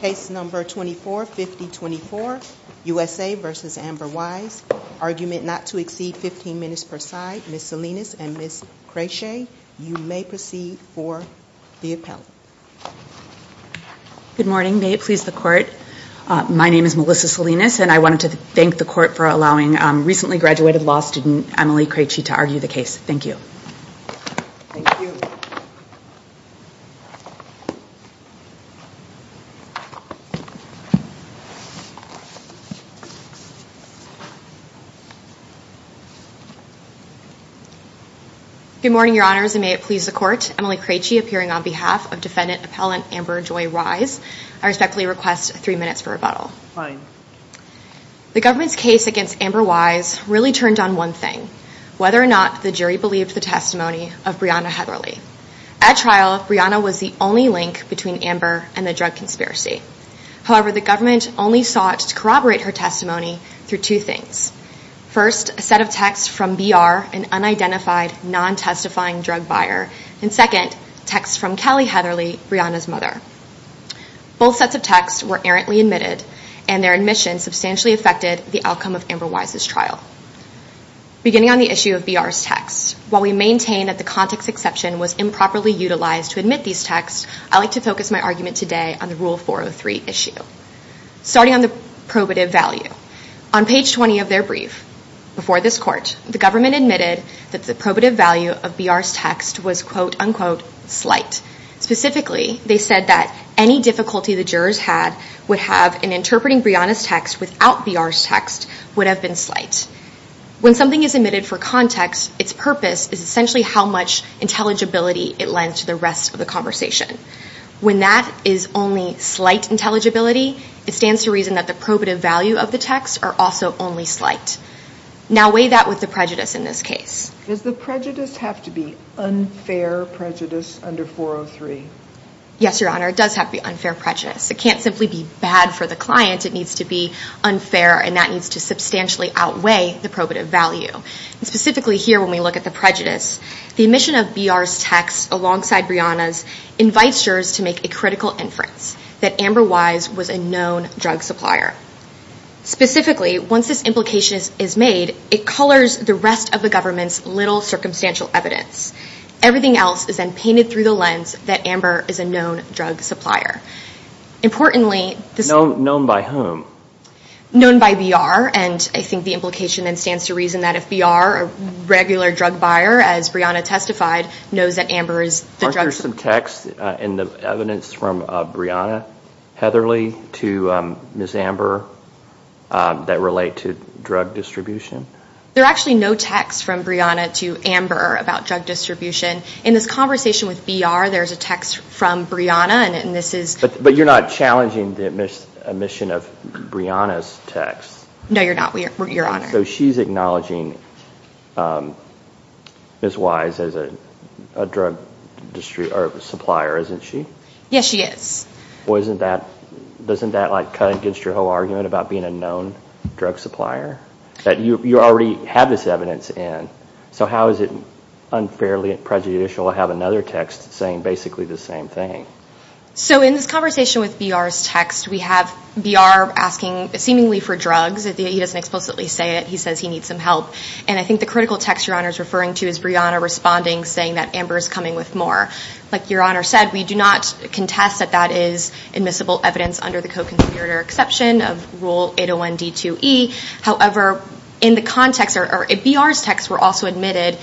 Case number 245024, USA v. Amber Wise. Argument not to exceed 15 minutes per side. Ms. Salinas and Ms. Krejci, you may proceed for the appellate. Good morning. May it please the court. My name is Melissa Salinas, and I wanted to thank the court for allowing recently graduated law student Emily Krejci to argue the case. Thank you. Good morning, your honors, and may it please the court. Emily Krejci, appearing on behalf of defendant appellant Amber Joy Wise. I respectfully request three minutes for rebuttal. Fine. The government's case against Amber Wise really turned on one thing, whether or not the jury believed the testimony of Breonna Heatherly. At trial, Breonna was the only link between Amber and the drug conspiracy. However, the government only sought to corroborate her testimony through two things. First, a set of texts from BR, an unidentified, non-testifying drug buyer. And second, texts from Kelly Heatherly, Breonna's mother. Both sets of texts were errantly admitted, and their admission substantially affected the outcome of Amber Wise's trial. Beginning on the issue of BR's texts, while we maintain that the context exception was improperly utilized to admit these texts, I'd like to focus my argument today on the Rule 403 issue. Starting on the probative value, on page 20 of their brief before this court, the government admitted that the probative value of BR's text was quote, unquote, slight. Specifically, they said that any difficulty the jurors had would have in interpreting Breonna's text without BR's text would have been slight. When something is admitted for context, its purpose is essentially how much intelligibility it lends to the rest of the conversation. When that is only slight intelligibility, it stands to reason that the probative value of the text are also only slight. Now weigh that with the prejudice in this case. Does the prejudice have to be unfair prejudice under 403? Yes, Your Honor, it does have to be unfair prejudice. It can't simply be bad for the client. It needs to be unfair, and that needs to substantially outweigh the probative value. Specifically here, when we look at the prejudice, the omission of BR's text alongside Breonna's invites jurors to make a critical inference that Amber Wise was a known drug supplier. Specifically, once this implication is made, it colors the rest of the government's little circumstantial evidence. Everything else is then painted through the lens that Amber is a known drug supplier. Importantly, this is known by whom? Known by BR, and I think the implication then is to reason that if BR, a regular drug buyer, as Breonna testified, knows that Amber is the drug supplier. Aren't there some texts in the evidence from Breonna Heatherley to Ms. Amber that relate to drug distribution? There are actually no texts from Breonna to Amber about drug distribution. In this conversation with BR, there's a text from Breonna, and this is... But you're not challenging the omission of Breonna's text. No, you're not, Your Honor. So she's acknowledging Ms. Wise as a drug supplier, isn't she? Yes, she is. Well, doesn't that cut against your whole argument about being a known drug supplier? That you already have this evidence in. So how is it unfairly prejudicial to have another text saying basically the same thing? So in this conversation with BR's text, we have BR asking, seemingly for drugs, he doesn't explicitly say it, he says he needs some help. And I think the critical text Your Honor is referring to is Breonna responding, saying that Amber is coming with more. Like Your Honor said, we do not contest that that is admissible evidence under the co-conspirator exception of Rule 801D2E. However, in the context, or in BR's text, we're also admitted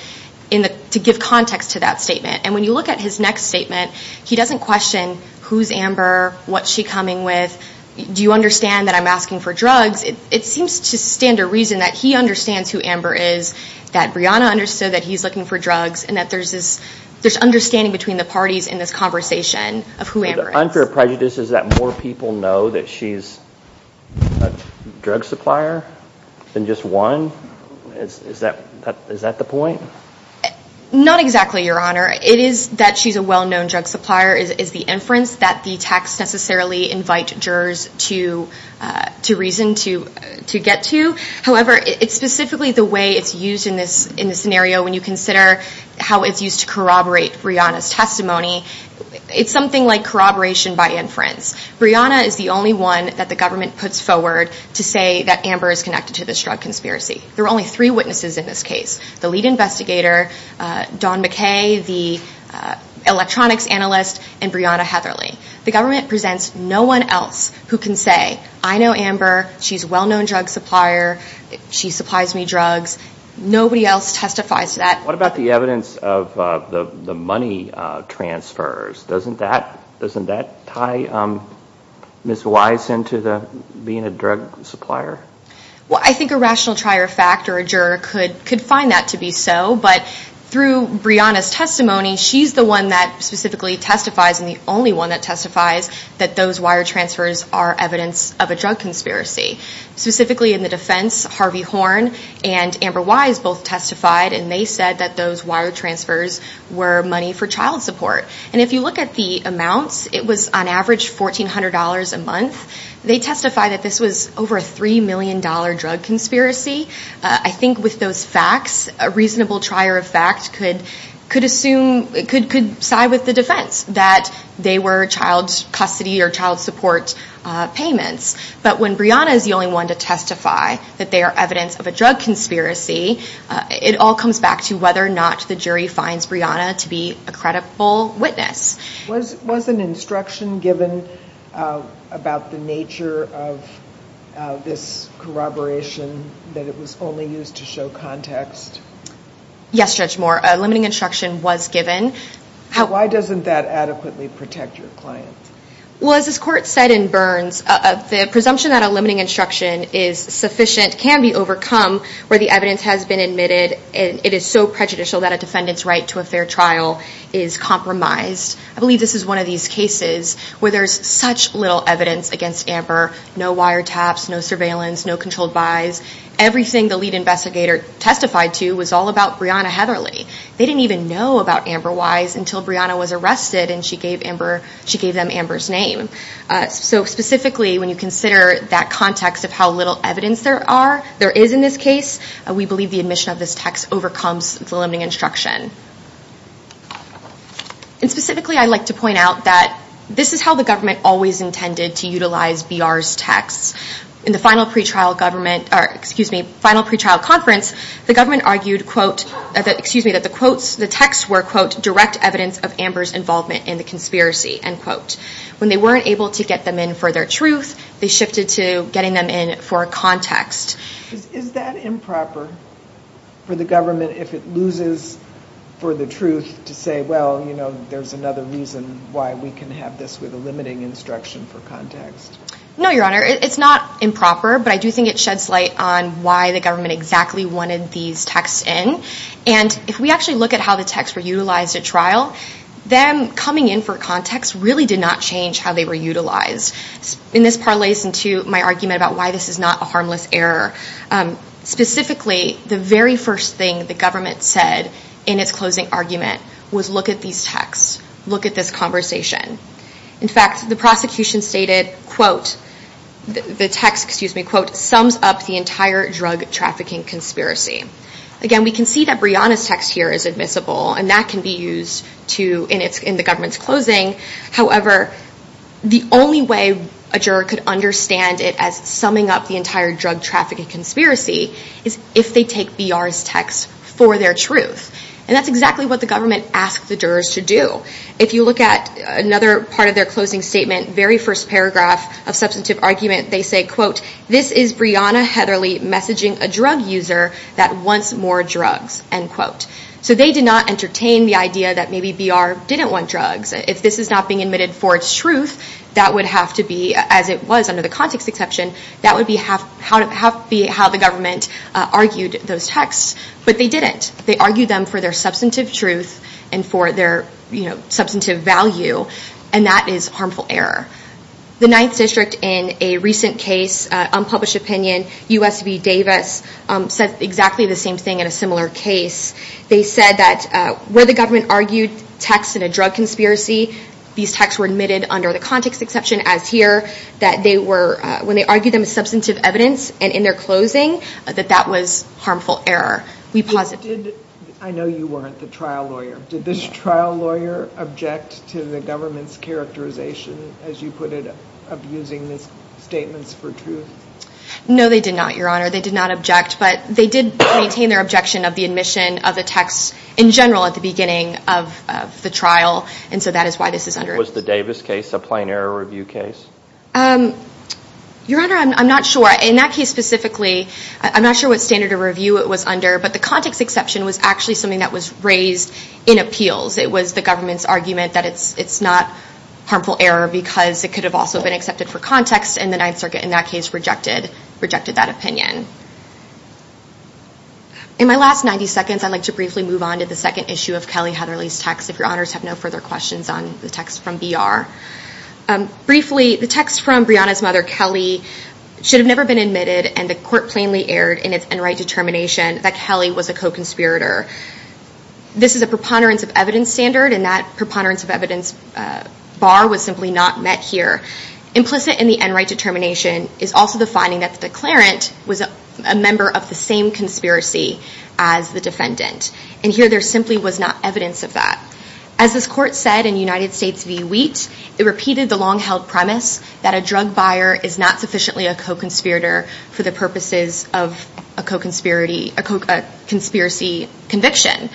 to give context to that statement. And when you look at his next statement, he doesn't question who's Amber, what's she coming with, do you understand that I'm asking for drugs? It seems to stand to reason that he understands who Amber is, that Breonna understood that he's looking for drugs, and that there's this understanding between the parties in this conversation of who Amber is. The unfair prejudice is that more people know that she's a drug supplier than just one? Is that the point? Not exactly, Your Honor. It is that she's a well-known drug supplier is the inference that the text necessarily invites jurors to reason to get to. However, it's specifically the way it's used in this scenario when you consider how it's used to corroborate Breonna's testimony. It's something like corroboration by inference. Breonna is the only one that the government puts forward to say that Amber is connected to this drug conspiracy. There are only three witnesses in this case, the lead investigator, Don McKay, the electronics analyst, and Breonna Heatherly. The government presents no one else who can say, I know Amber, she's a well-known drug supplier, she supplies me drugs. Nobody else testifies to that. What about the evidence of the money transfers? Doesn't that tie Ms. Wise into being a drug supplier? Well, I think a rational trier of fact or a juror could find that to be so. But through Breonna's testimony, she's the one that specifically testifies and the only one that testifies that those wire transfers are evidence of a drug conspiracy. Specifically in the defense, Harvey Horn and Amber Wise both testified, and they said that those wire transfers were money for child support. And if you look at the amounts, it was on average $1,400 a month. They testify that this was over a $3 million drug conspiracy. I think with those facts, a reasonable trier of fact could side with the defense that they were child custody or child support payments. But when Breonna is the only one to testify that they are evidence of a drug conspiracy, it all comes back to whether or not the jury finds Breonna to be a credible witness. Was an instruction given about the nature of this corroboration that it was only used to show context? Yes, Judge Moore, a limiting instruction was given. Why doesn't that adequately protect your client? Well, as this court said in Burns, the presumption that a limiting instruction is sufficient can be overcome where the evidence has been admitted, and it is so prejudicial that a defendant's right to a fair trial is compromised. I believe this is one of these cases where there's such little evidence against Amber, no wire taps, no surveillance, no controlled buys. Everything the lead investigator testified to was all about Breonna Heatherly. They didn't even know about Amber Wise until Breonna was arrested and she gave them Amber's name. So specifically, when you consider that context of how little evidence there is in this case, we believe the admission of this text overcomes the limiting instruction. And specifically, I'd like to point out that this is how the government always intended to utilize BR's texts. In the final pretrial conference, the government argued, quote, excuse me, that the quotes, the texts were, quote, direct evidence of Amber's involvement in the conspiracy, end quote. When they weren't able to get them in for their truth, they shifted to getting them in for context. Is that improper for the government if it loses for the truth to say, well, you know, there's another reason why we can have this with a limiting instruction for context? No, Your Honor, it's not improper, but I do think it sheds light on why the government exactly wanted these texts in. And if we actually look at how the texts were utilized at trial, them coming in for context really did not change how they were utilized. In this parlays into my argument about why this is not a harmless error. Specifically, the very first thing the government said in its closing argument was look at these texts, look at this conversation. In fact, the prosecution stated, quote, the text, excuse me, quote, sums up the entire drug trafficking conspiracy. Again, we can see that Breonna's text here is admissible, and that can be used in the government's closing. However, the only way a juror could understand it as summing up the entire drug trafficking conspiracy is if they take BR's text for their truth. And that's exactly what the government asked the jurors to do. If you look at another part of their closing statement, very first paragraph of substantive argument, they say, quote, this is Breonna Heatherly messaging a drug user that wants more drugs, end quote. So they did not entertain the idea that maybe BR didn't want drugs. If this is not being admitted for its truth, that would have to be, as it was under the context exception, that would be how the government argued those texts. But they didn't. They argued them for their substantive truth and for their substantive value, and that is harmful error. The Ninth District, in a recent case, unpublished opinion, U.S. v. Davis, said exactly the same thing in a similar case. They said that where the government argued texts in a drug conspiracy, these texts were admitted under the context exception, as here, that when they argued them as substantive evidence and in their closing, that that was harmful error. We posit that. I know you weren't the trial lawyer. Did this trial lawyer object to the government's characterization, as you put it, of using these statements for truth? No, they did not, Your Honor. They did not object. But they did maintain their objection of the admission of the text, in general, at the beginning of the trial. And so that is why this is under. Was the Davis case a plain error review case? Your Honor, I'm not sure. In that case, specifically, I'm not sure what standard of review it was under. But the context exception was actually something that was raised in appeals. It was the government's argument that it's not harmful error because it could have also been accepted for context. And the Ninth Circuit, in that case, rejected that opinion. In my last 90 seconds, I'd like to briefly move on to the second issue of Kelly Heatherly's text, if Your Honors have no further questions on the text from BR. Briefly, the text from Breonna's mother, Kelly, should have never been admitted. And the court plainly erred in its n-right determination that Kelly was a co-conspirator. This is a preponderance of evidence standard. And that preponderance of evidence bar was simply not met here. Implicit in the n-right determination is also the finding that the declarant was a member of the same conspiracy as the defendant. And here, there simply was not evidence of that. As this court said in United States v. Wheat, it repeated the long-held premise that a drug buyer is not sufficiently a co-conspirator for the purposes of a conspiracy conviction.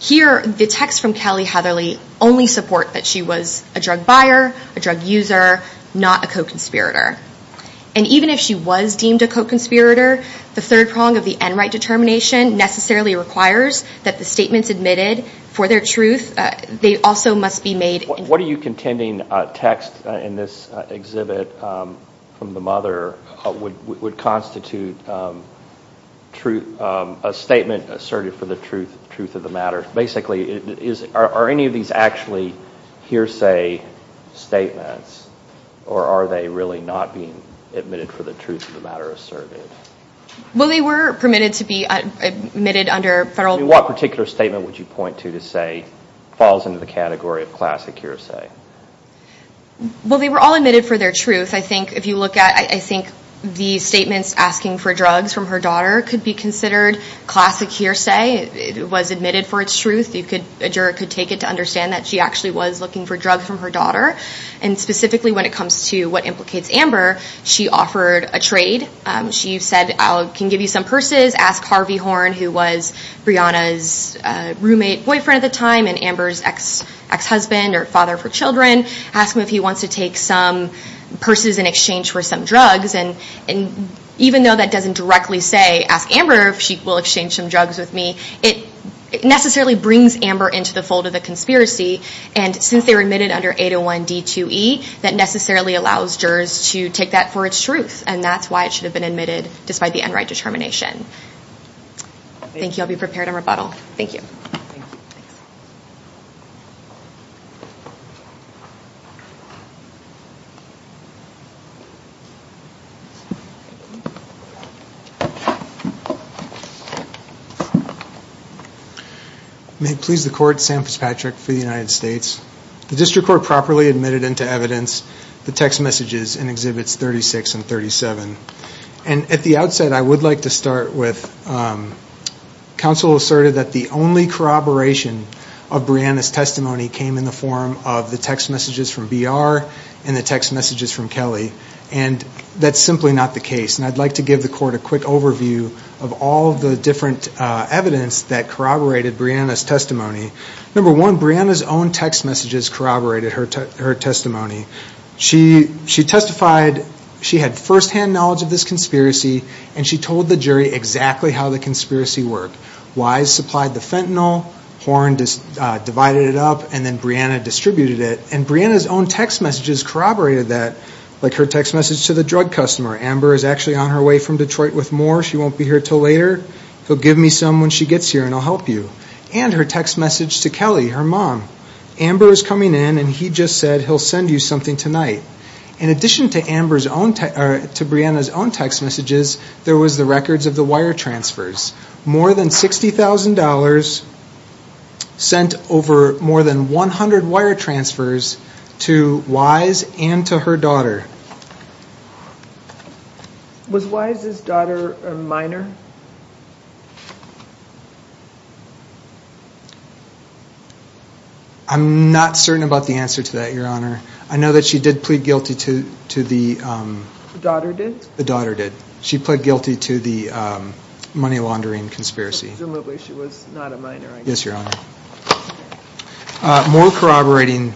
Here, the text from Kelly Heatherly only support that she was a drug buyer, a drug user, not a co-conspirator. And even if she was deemed a co-conspirator, the third prong of the n-right determination necessarily requires that the statements admitted for their truth, they also must be made. What are you contending text in this exhibit from the mother would constitute a statement asserted for the truth of the matter? Basically, are any of these actually hearsay statements? Or are they really not being admitted for the truth of the matter asserted? Well, they were permitted to be admitted under federal. What particular statement would you point to to say falls into the category of classic hearsay? Well, they were all admitted for their truth. I think if you look at, I think the statements asking for drugs from her daughter could be considered classic hearsay. It was admitted for its truth. A juror could take it to understand that she actually was looking for drugs from her daughter. And specifically, when it comes to what implicates Amber, she offered a trade. She said, I can give you some purses. Ask Harvey Horn, who was Brianna's roommate, boyfriend at the time, and Amber's ex-husband or father of her children. Ask him if he wants to take some purses in exchange for some drugs. And even though that doesn't directly say, ask Amber if she will exchange some drugs with me, it necessarily brings Amber into the fold of the conspiracy. And since they were admitted under 801 D2E, that necessarily allows jurors to take that for its truth. And that's why it should have been admitted despite the unright determination. Thank you. I'll be prepared in rebuttal. Thank you. May it please the court, Sam Fitzpatrick for the United States. The district court properly admitted into evidence the text messages in Exhibits 36 and 37. And at the outset, I would like to start with counsel asserted that the only corroboration of Brianna's testimony came in the form of the text messages from BR and the text messages from Kelly. And that's simply not the case. And I'd like to give the court a quick overview of all the different evidence that corroborated Brianna's testimony. Number one, Brianna's own text messages corroborated her testimony. She testified she had firsthand knowledge of this conspiracy, and she told the jury exactly how the conspiracy worked, why it supplied the fentanyl, Horne divided it up, and then Brianna distributed it. And Brianna's own text messages corroborated that, like her text message to the drug customer. Amber is actually on her way from Detroit with more. She won't be here till later. He'll give me some when she gets here, and I'll help you. And her text message to Kelly, her mom. Amber is coming in, and he just said he'll send you something tonight. In addition to Brianna's own text messages, there was the records of the wire transfers. More than $60,000 sent over more than 100 wire transfers to Wise and to her daughter. Was Wise's daughter a minor? I'm not certain about the answer to that, Your Honor. I know that she did plead guilty to the, um. The daughter did? The daughter did. She pled guilty to the money laundering conspiracy. Presumably she was not a minor, I guess. Yes, Your Honor. More corroborating,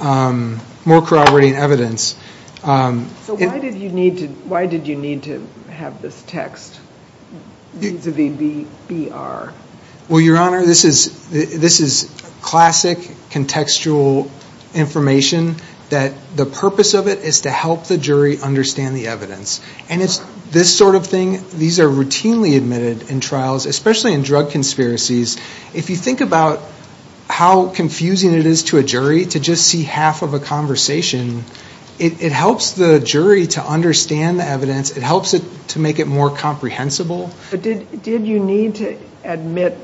um. More corroborating evidence. So why did you need to, why did you need to have this text vis-a-vis the BR? Well, Your Honor, this is, this is classic contextual information that the purpose of it is to help the jury understand the evidence. And it's this sort of thing, these are routinely admitted in trials, especially in drug conspiracies. If you think about how confusing it is to a jury to just see half of a conversation, it helps the jury to understand the evidence. It helps it to make it more comprehensible. But did, did you need to admit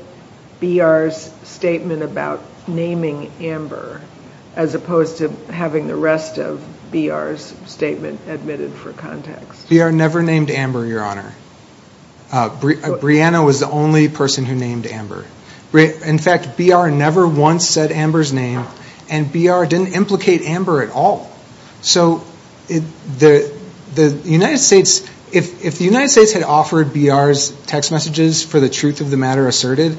BR's statement about naming Amber as opposed to having the rest of BR's statement admitted for context? BR never named Amber, Your Honor. Brianna was the only person who named Amber. In fact, BR never once said Amber's name, and BR didn't implicate Amber at all. So the United States, if the United States had offered BR's text messages for the truth of the matter asserted,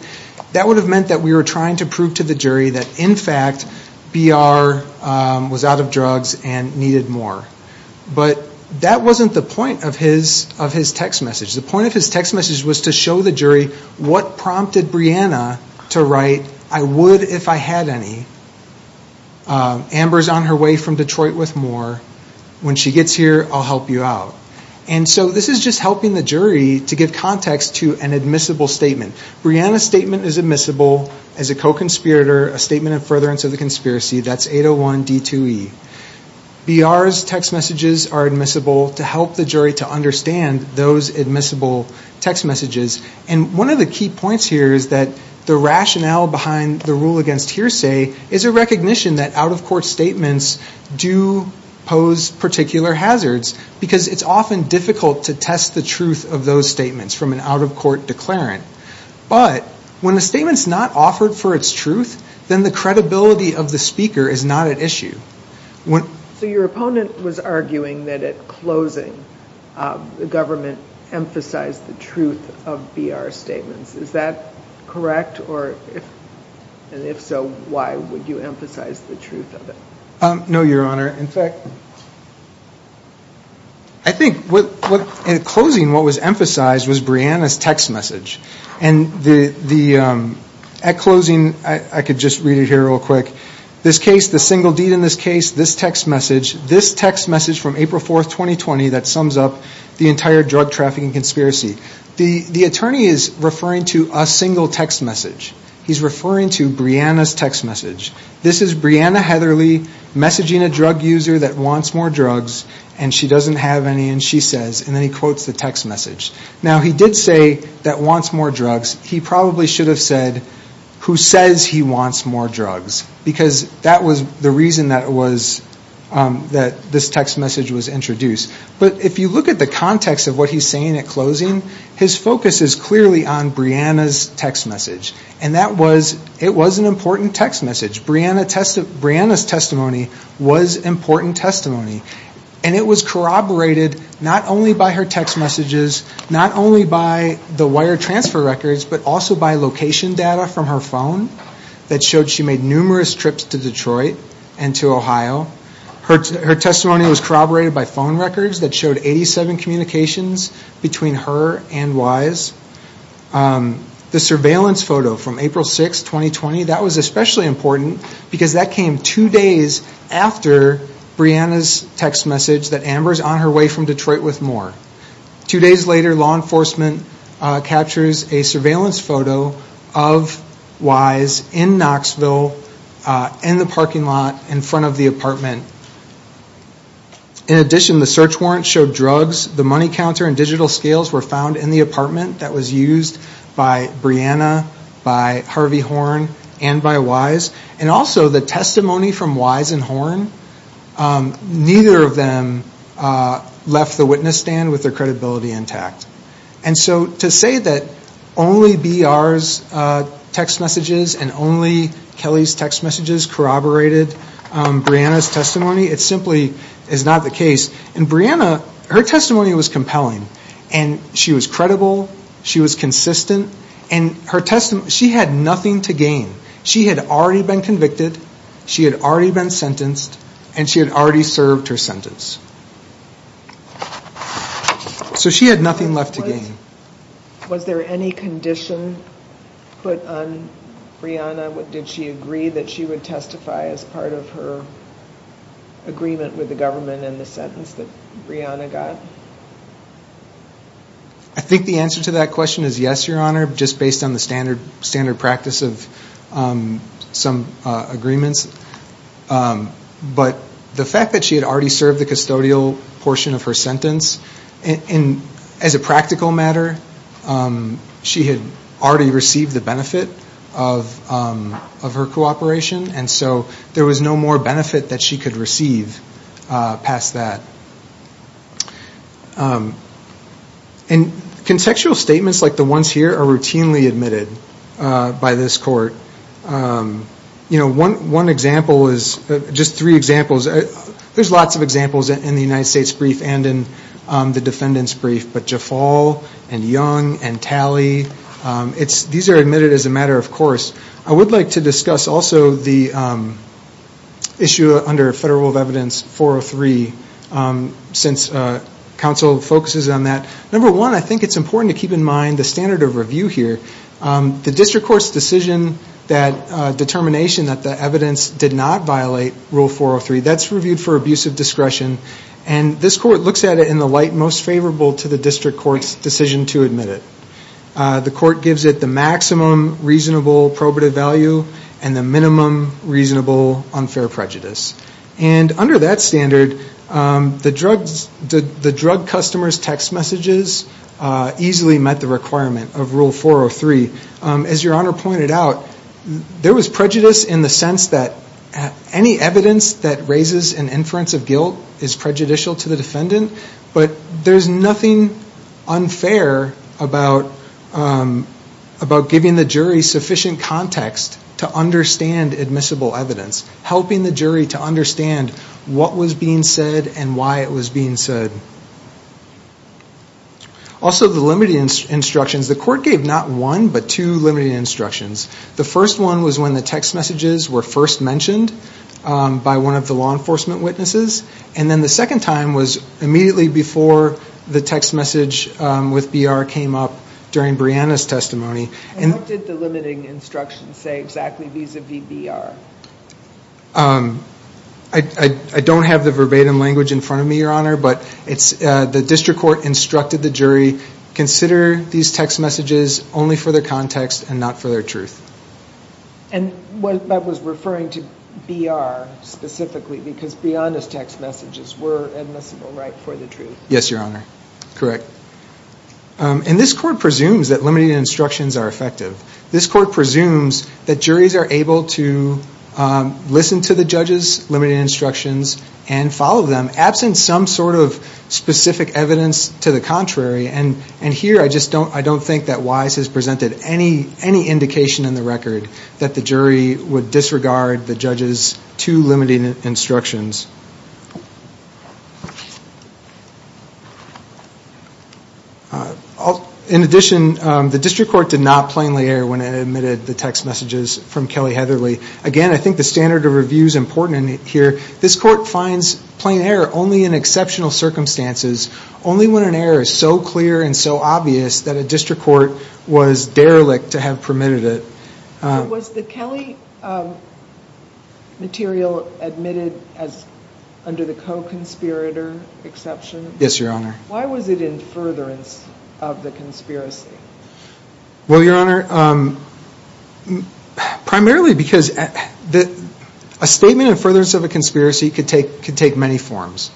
that would have meant that we were trying to prove to the jury that, in fact, BR was out of drugs and needed more. But that wasn't the point of his, of his text message. The point of his text message was to show the jury what prompted Brianna to write, I would if I had any. Amber's on her way from Detroit with more. When she gets here, I'll help you out. And so this is just helping the jury to give context to an admissible statement. Brianna's statement is admissible as a co-conspirator, a statement of furtherance of the conspiracy, that's 801 D2E. BR's text messages are admissible to help the jury to understand those admissible text messages. And one of the key points here is that the rationale behind the rule against hearsay is a recognition that out-of-court statements do pose particular hazards because it's often difficult to test the truth of those statements from an out-of-court declarant. But when the statement's not offered for its truth, then the credibility of the speaker is not at issue. So your opponent was arguing that at closing, the government emphasized the truth of BR statements. Is that correct? Or if, and if so, why would you emphasize the truth of it? No, Your Honor. In fact, I think what, in closing, what was emphasized was Brianna's text message. And the, at closing, I could just read it here real quick. This case, the single deed in this case, this text message, this text message from April 4th, 2020 that sums up the entire drug trafficking conspiracy. The attorney is referring to a single text message. He's referring to Brianna's text message. This is Brianna Heatherly messaging a drug user that wants more drugs and she doesn't have any and she says, and then he quotes the text message. Now, he did say that wants more drugs. He probably should have said, who says he wants more drugs? Because that was the reason that it was, that this text message was introduced. But if you look at the context of what he's saying at closing, his focus is clearly on Brianna's text message. And that was, it was an important text message. Brianna's testimony was important testimony. And it was corroborated not only by her text messages, not only by the wire transfer records, but also by location data from her phone that showed she made numerous trips to Detroit and to Ohio. Her testimony was corroborated by phone records that showed 87 communications between her and Wise. The surveillance photo from April 6th, 2020, that was especially important because that came two days after Brianna's text message that Amber's on her way from Detroit with more. Two days later, law enforcement captures a surveillance photo of Wise in Knoxville in the parking lot in front of the apartment. In addition, the search warrants showed drugs. The money counter and digital scales were found in the apartment that was used by Brianna, by Harvey Horn, and by Wise. And also the testimony from Wise and Horn, neither of them left the witness stand with their credibility intact. And so to say that only BR's text messages and only Kelly's text messages corroborated Brianna's testimony, it simply is not the case. And Brianna, her testimony was compelling. And she was credible. She was consistent. And her testimony, she had nothing to gain. She had already been convicted, she had already been sentenced, and she had already served her sentence. So she had nothing left to gain. Was there any condition put on Brianna? Did she agree that she would testify as part of her agreement with the government and the sentence that Brianna got? I think the answer to that question is yes, Your Honor, just based on the standard practice of some agreements. But the fact that she had already served the custodial portion of her sentence, and as a practical matter, she had already received the benefit of her cooperation, and so there was no more benefit that she could receive past that. And contextual statements like the ones here are routinely admitted by this court. One example is, just three examples, there's lots of examples in the United States brief and in the defendant's brief, but Jafal and Young and Talley, these are admitted as a matter of course. I would like to discuss also the issue under Federal Rule of Evidence 403, since counsel focuses on that. Number one, I think it's important to keep in mind the standard of review here. The district court's decision, that determination that the evidence did not violate Rule 403, that's reviewed for abuse of discretion, and this court looks at it in the light most favorable to the district court's decision to admit it. The court gives it the maximum reasonable probative value and the minimum reasonable unfair prejudice. And under that standard, the drug customer's text messages easily met the requirement of Rule 403. As your honor pointed out, there was prejudice in the sense that any evidence that raises an inference of guilt is prejudicial to the defendant, but there's nothing unfair about giving the jury sufficient context to understand admissible evidence, helping the jury to understand what was being said and why it was being said. Also, the limiting instructions. The court gave not one, but two limiting instructions. The first one was when the text messages were first mentioned by one of the law enforcement witnesses, and then the second time was immediately before the text message with BR came up during Brianna's testimony. And what did the limiting instructions say exactly vis-a-vis BR? I don't have the verbatim language in front of me, your honor, but the district court instructed the jury, consider these text messages only for their context and not for their truth. And that was referring to BR specifically, because Brianna's text messages were admissible right for the truth. Yes, your honor, correct. And this court presumes that limiting instructions are effective. This court presumes that juries are able to listen to the judges' limiting instructions and follow them, absent some sort of specific evidence to the contrary. And here, I just don't think that Wise has presented any indication in the record that the jury would disregard the judges' two limiting instructions. In addition, the district court did not plainly err when it admitted the text messages from Kelly Heatherly. Again, I think the standard of review is important here. This court finds plain error only in exceptional circumstances, only when an error is so clear and so obvious that a district court was derelict to have permitted it. Was the Kelly material admitted as under the co-conspirator exception? Yes, your honor. Why was it in furtherance of the conspiracy? Well, your honor, primarily because a statement in furtherance of a conspiracy could take many forms.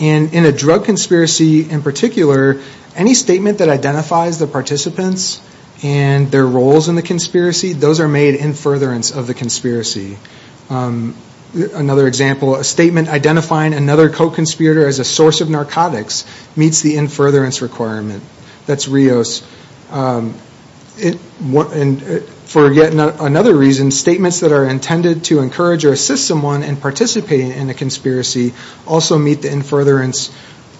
And in a drug conspiracy in particular, any statement that identifies the participants and their roles in the conspiracy, those are made in furtherance of the conspiracy. Another example, a statement identifying another co-conspirator as a source of narcotics meets the in furtherance requirement. That's Rios. For yet another reason, statements that are intended to encourage or assist someone in participating in a conspiracy also meet the in furtherance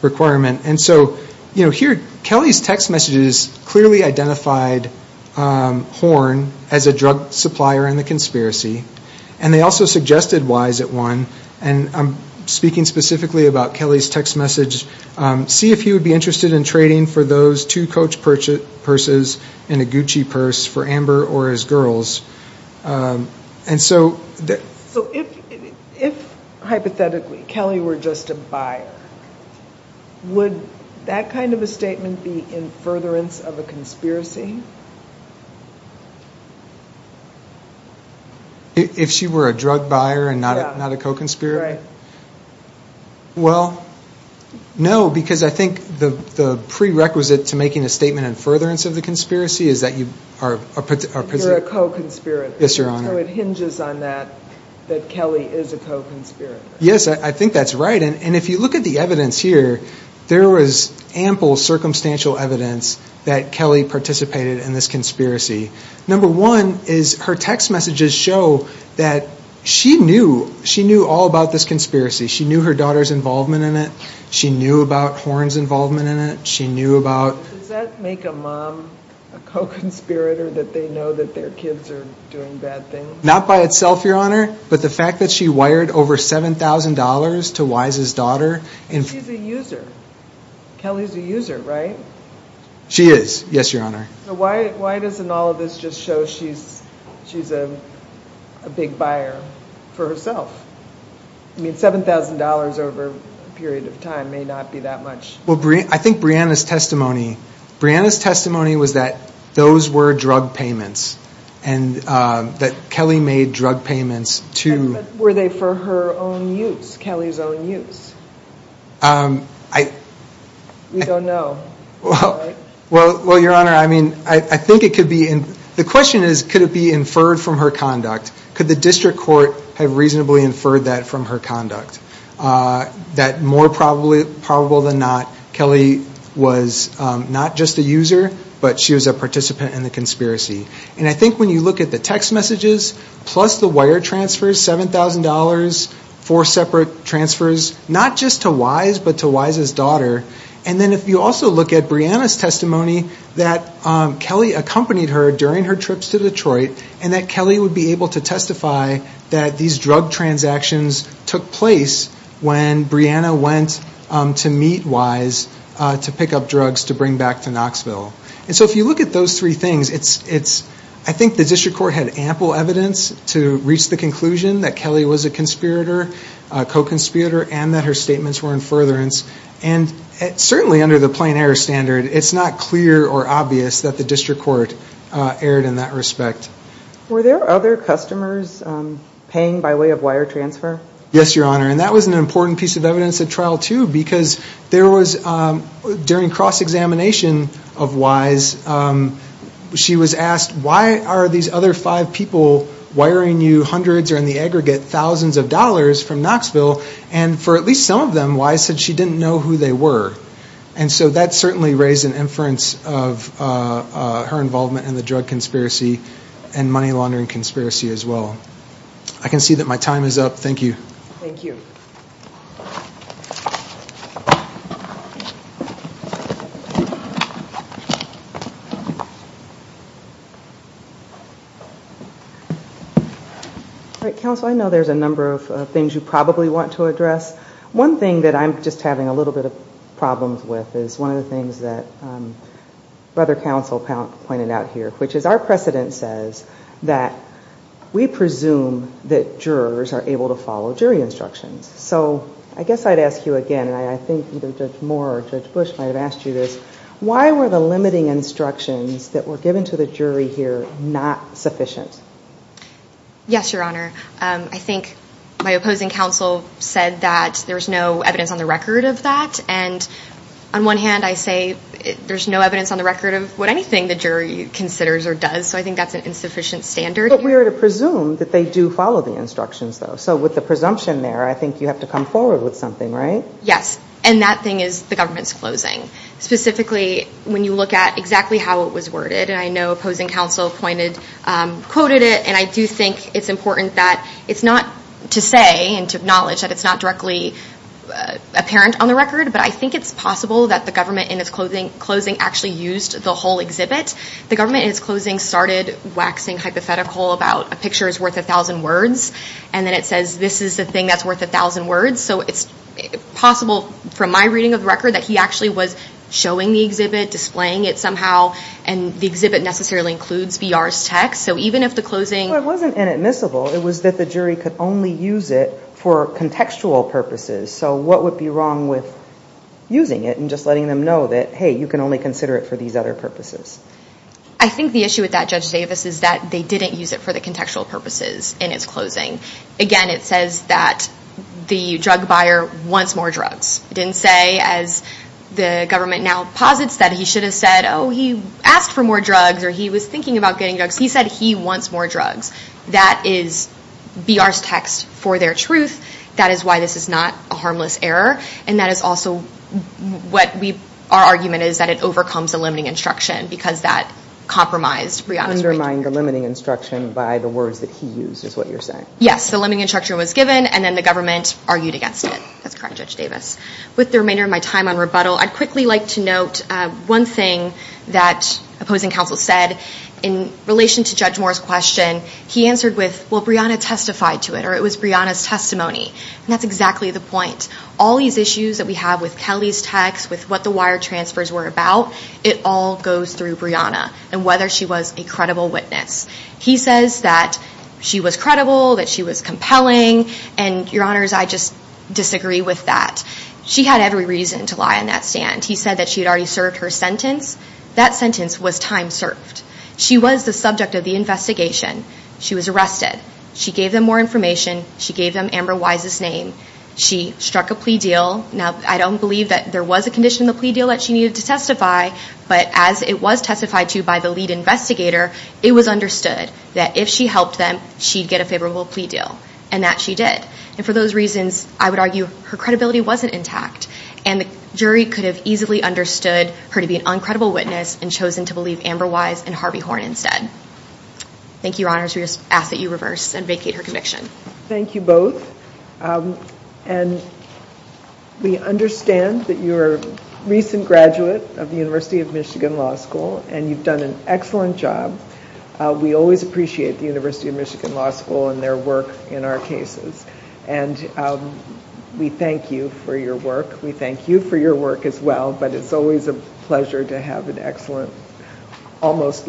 requirement. And so, here Kelly's text messages clearly identified Horne as a drug supplier in the conspiracy. And they also suggested Wise at one, and I'm speaking specifically about Kelly's text message, see if he would be interested in trading for those two Coach purses and a Gucci purse for Amber or his girls. And so... So if, hypothetically, Kelly were just a buyer, would that kind of a statement be in furtherance of a conspiracy? If she were a drug buyer and not a co-conspirator? Yeah, right. Well, no, because I think the prerequisite to making a statement in furtherance of the conspiracy is that you are a... You're a co-conspirator. Yes, Your Honor. So it hinges on that, that Kelly is a co-conspirator. Yes, I think that's right. And if you look at the evidence here, there was ample circumstantial evidence that Kelly participated in this conspiracy. Number one is her text messages show that she knew all about this conspiracy. She knew her daughter's involvement in it. She knew about Horne's involvement in it. She knew about... Does that make a mom a co-conspirator that they know that their kids are doing bad things? Not by itself, Your Honor, but the fact that she wired over $7,000 to Wise's daughter... She's a user. Kelly's a user, right? She is. Yes, Your Honor. So why doesn't all of this just show she's a big buyer for herself? I mean, $7,000 over a period of time may not be that much. Well, I think Brianna's testimony... Brianna's testimony was that those were drug payments and that Kelly made drug payments to... Were they for her own use, Kelly's own use? We don't know. Well, Your Honor, I mean, I think it could be... The question is, could it be inferred from her conduct? Could the district court have reasonably inferred that from her conduct? That more probable than not, Kelly was not just a user, but she was a participant in the conspiracy. And I think when you look at the text messages, plus the wire transfers, $7,000, four separate transfers, not just to Wise, but to Wise's daughter. And then if you also look at Brianna's testimony, that Kelly accompanied her during her trips to Detroit, and that Kelly would be able to testify that these drug transactions took place when Brianna went to meet Wise to pick up drugs to bring back to Knoxville. And so if you look at those three things, I think the district court had ample evidence to reach the conclusion that Kelly was a conspirator, a co-conspirator, and that her statements were in furtherance. And certainly under the plain error standard, it's not clear or obvious that the district court erred in that respect. Were there other customers paying by way of wire transfer? Yes, Your Honor. And that was an important piece of evidence at trial too, because there was during cross-examination of Wise, she was asked, why are these other five people wiring you hundreds or in the aggregate thousands of dollars from Knoxville? And for at least some of them, Wise said she didn't know who they were. And so that certainly raised an inference of her involvement in the drug conspiracy and money laundering conspiracy as well. I can see that my time is up. Thank you. Thank you. All right, counsel, I know there's a number of things you probably want to address. One thing that I'm just having a little bit of problems with is one of the things that brother counsel pointed out here, which is our precedent says that we presume that jurors are able to follow jury instructions. So I guess I'd ask you again, and I think either Judge Moore or Judge Bush might've asked you this, why were the limiting instructions that were given to the jury here not sufficient? Yes, Your Honor. I think my opposing counsel said that there was no evidence on the record of that. And on one hand I say, there's no evidence on the record of what anything the jury considers or does. So I think that's an insufficient standard. But we are to presume that they do follow the instructions though. So with the presumption there, I think you have to come forward with something, right? Yes, and that thing is the government's closing. Specifically, when you look at exactly how it was worded, and I know opposing counsel quoted it, and I do think it's important that it's not to say and to acknowledge that it's not directly apparent on the record, but I think it's possible that the government in its closing actually used the whole exhibit. The government in its closing started waxing hypothetical about a picture is worth a thousand words. And then it says, this is the thing that's worth a thousand words. So it's possible from my reading of the record that he actually was showing the exhibit, displaying it somehow. And the exhibit necessarily includes BR's text. So even if the closing- Well, it wasn't inadmissible. It was that the jury could only use it for contextual purposes. So what would be wrong with using it and just letting them know that, hey, you can only consider it for these other purposes? I think the issue with that, Judge Davis, is that they didn't use it for the contextual purposes in its closing. Again, it says that the drug buyer wants more drugs. It didn't say, as the government now posits, that he should have said, oh, he asked for more drugs or he was thinking about getting drugs. He said he wants more drugs. That is BR's text for their truth. That is why this is not a harmless error. And that is also what we, our argument is that it overcomes the limiting instruction because that compromised Brianna's- Undermined the limiting instruction by the words that he used, is what you're saying. Yes, the limiting instruction was given and then the government argued against it. That's correct, Judge Davis. With the remainder of my time on rebuttal, I'd quickly like to note one thing that opposing counsel said in relation to Judge Moore's question. He answered with, well, Brianna testified to it or it was Brianna's testimony. And that's exactly the point. All these issues that we have with Kelly's text, with what the wire transfers were about, it all goes through Brianna and whether she was a credible witness. He says that she was credible, that she was compelling. And your honors, I just disagree with that. She had every reason to lie on that stand. He said that she had already served her sentence. That sentence was time served. She was the subject of the investigation. She was arrested. She gave them more information. She gave them Amber Wise's name. She struck a plea deal. Now, I don't believe that there was a condition in the plea deal that she needed to testify, but as it was testified to by the lead investigator, it was understood that if she helped them, she'd get a favorable plea deal. And that she did. And for those reasons, I would argue her credibility wasn't intact. And the jury could have easily understood her to be an uncredible witness and chosen to believe Amber Wise and Harvey Horn instead. Thank you, your honors. We just ask that you reverse and vacate her conviction. Thank you both. And we understand that you're a recent graduate of the University of Michigan Law School, and you've done an excellent job. We always appreciate the University of Michigan Law School and their work in our cases. And we thank you for your work. We thank you for your work as well, but it's always a pleasure to have an excellent, almost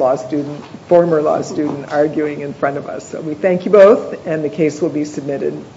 former law student arguing in front of us. So we thank you both, and the case will be submitted.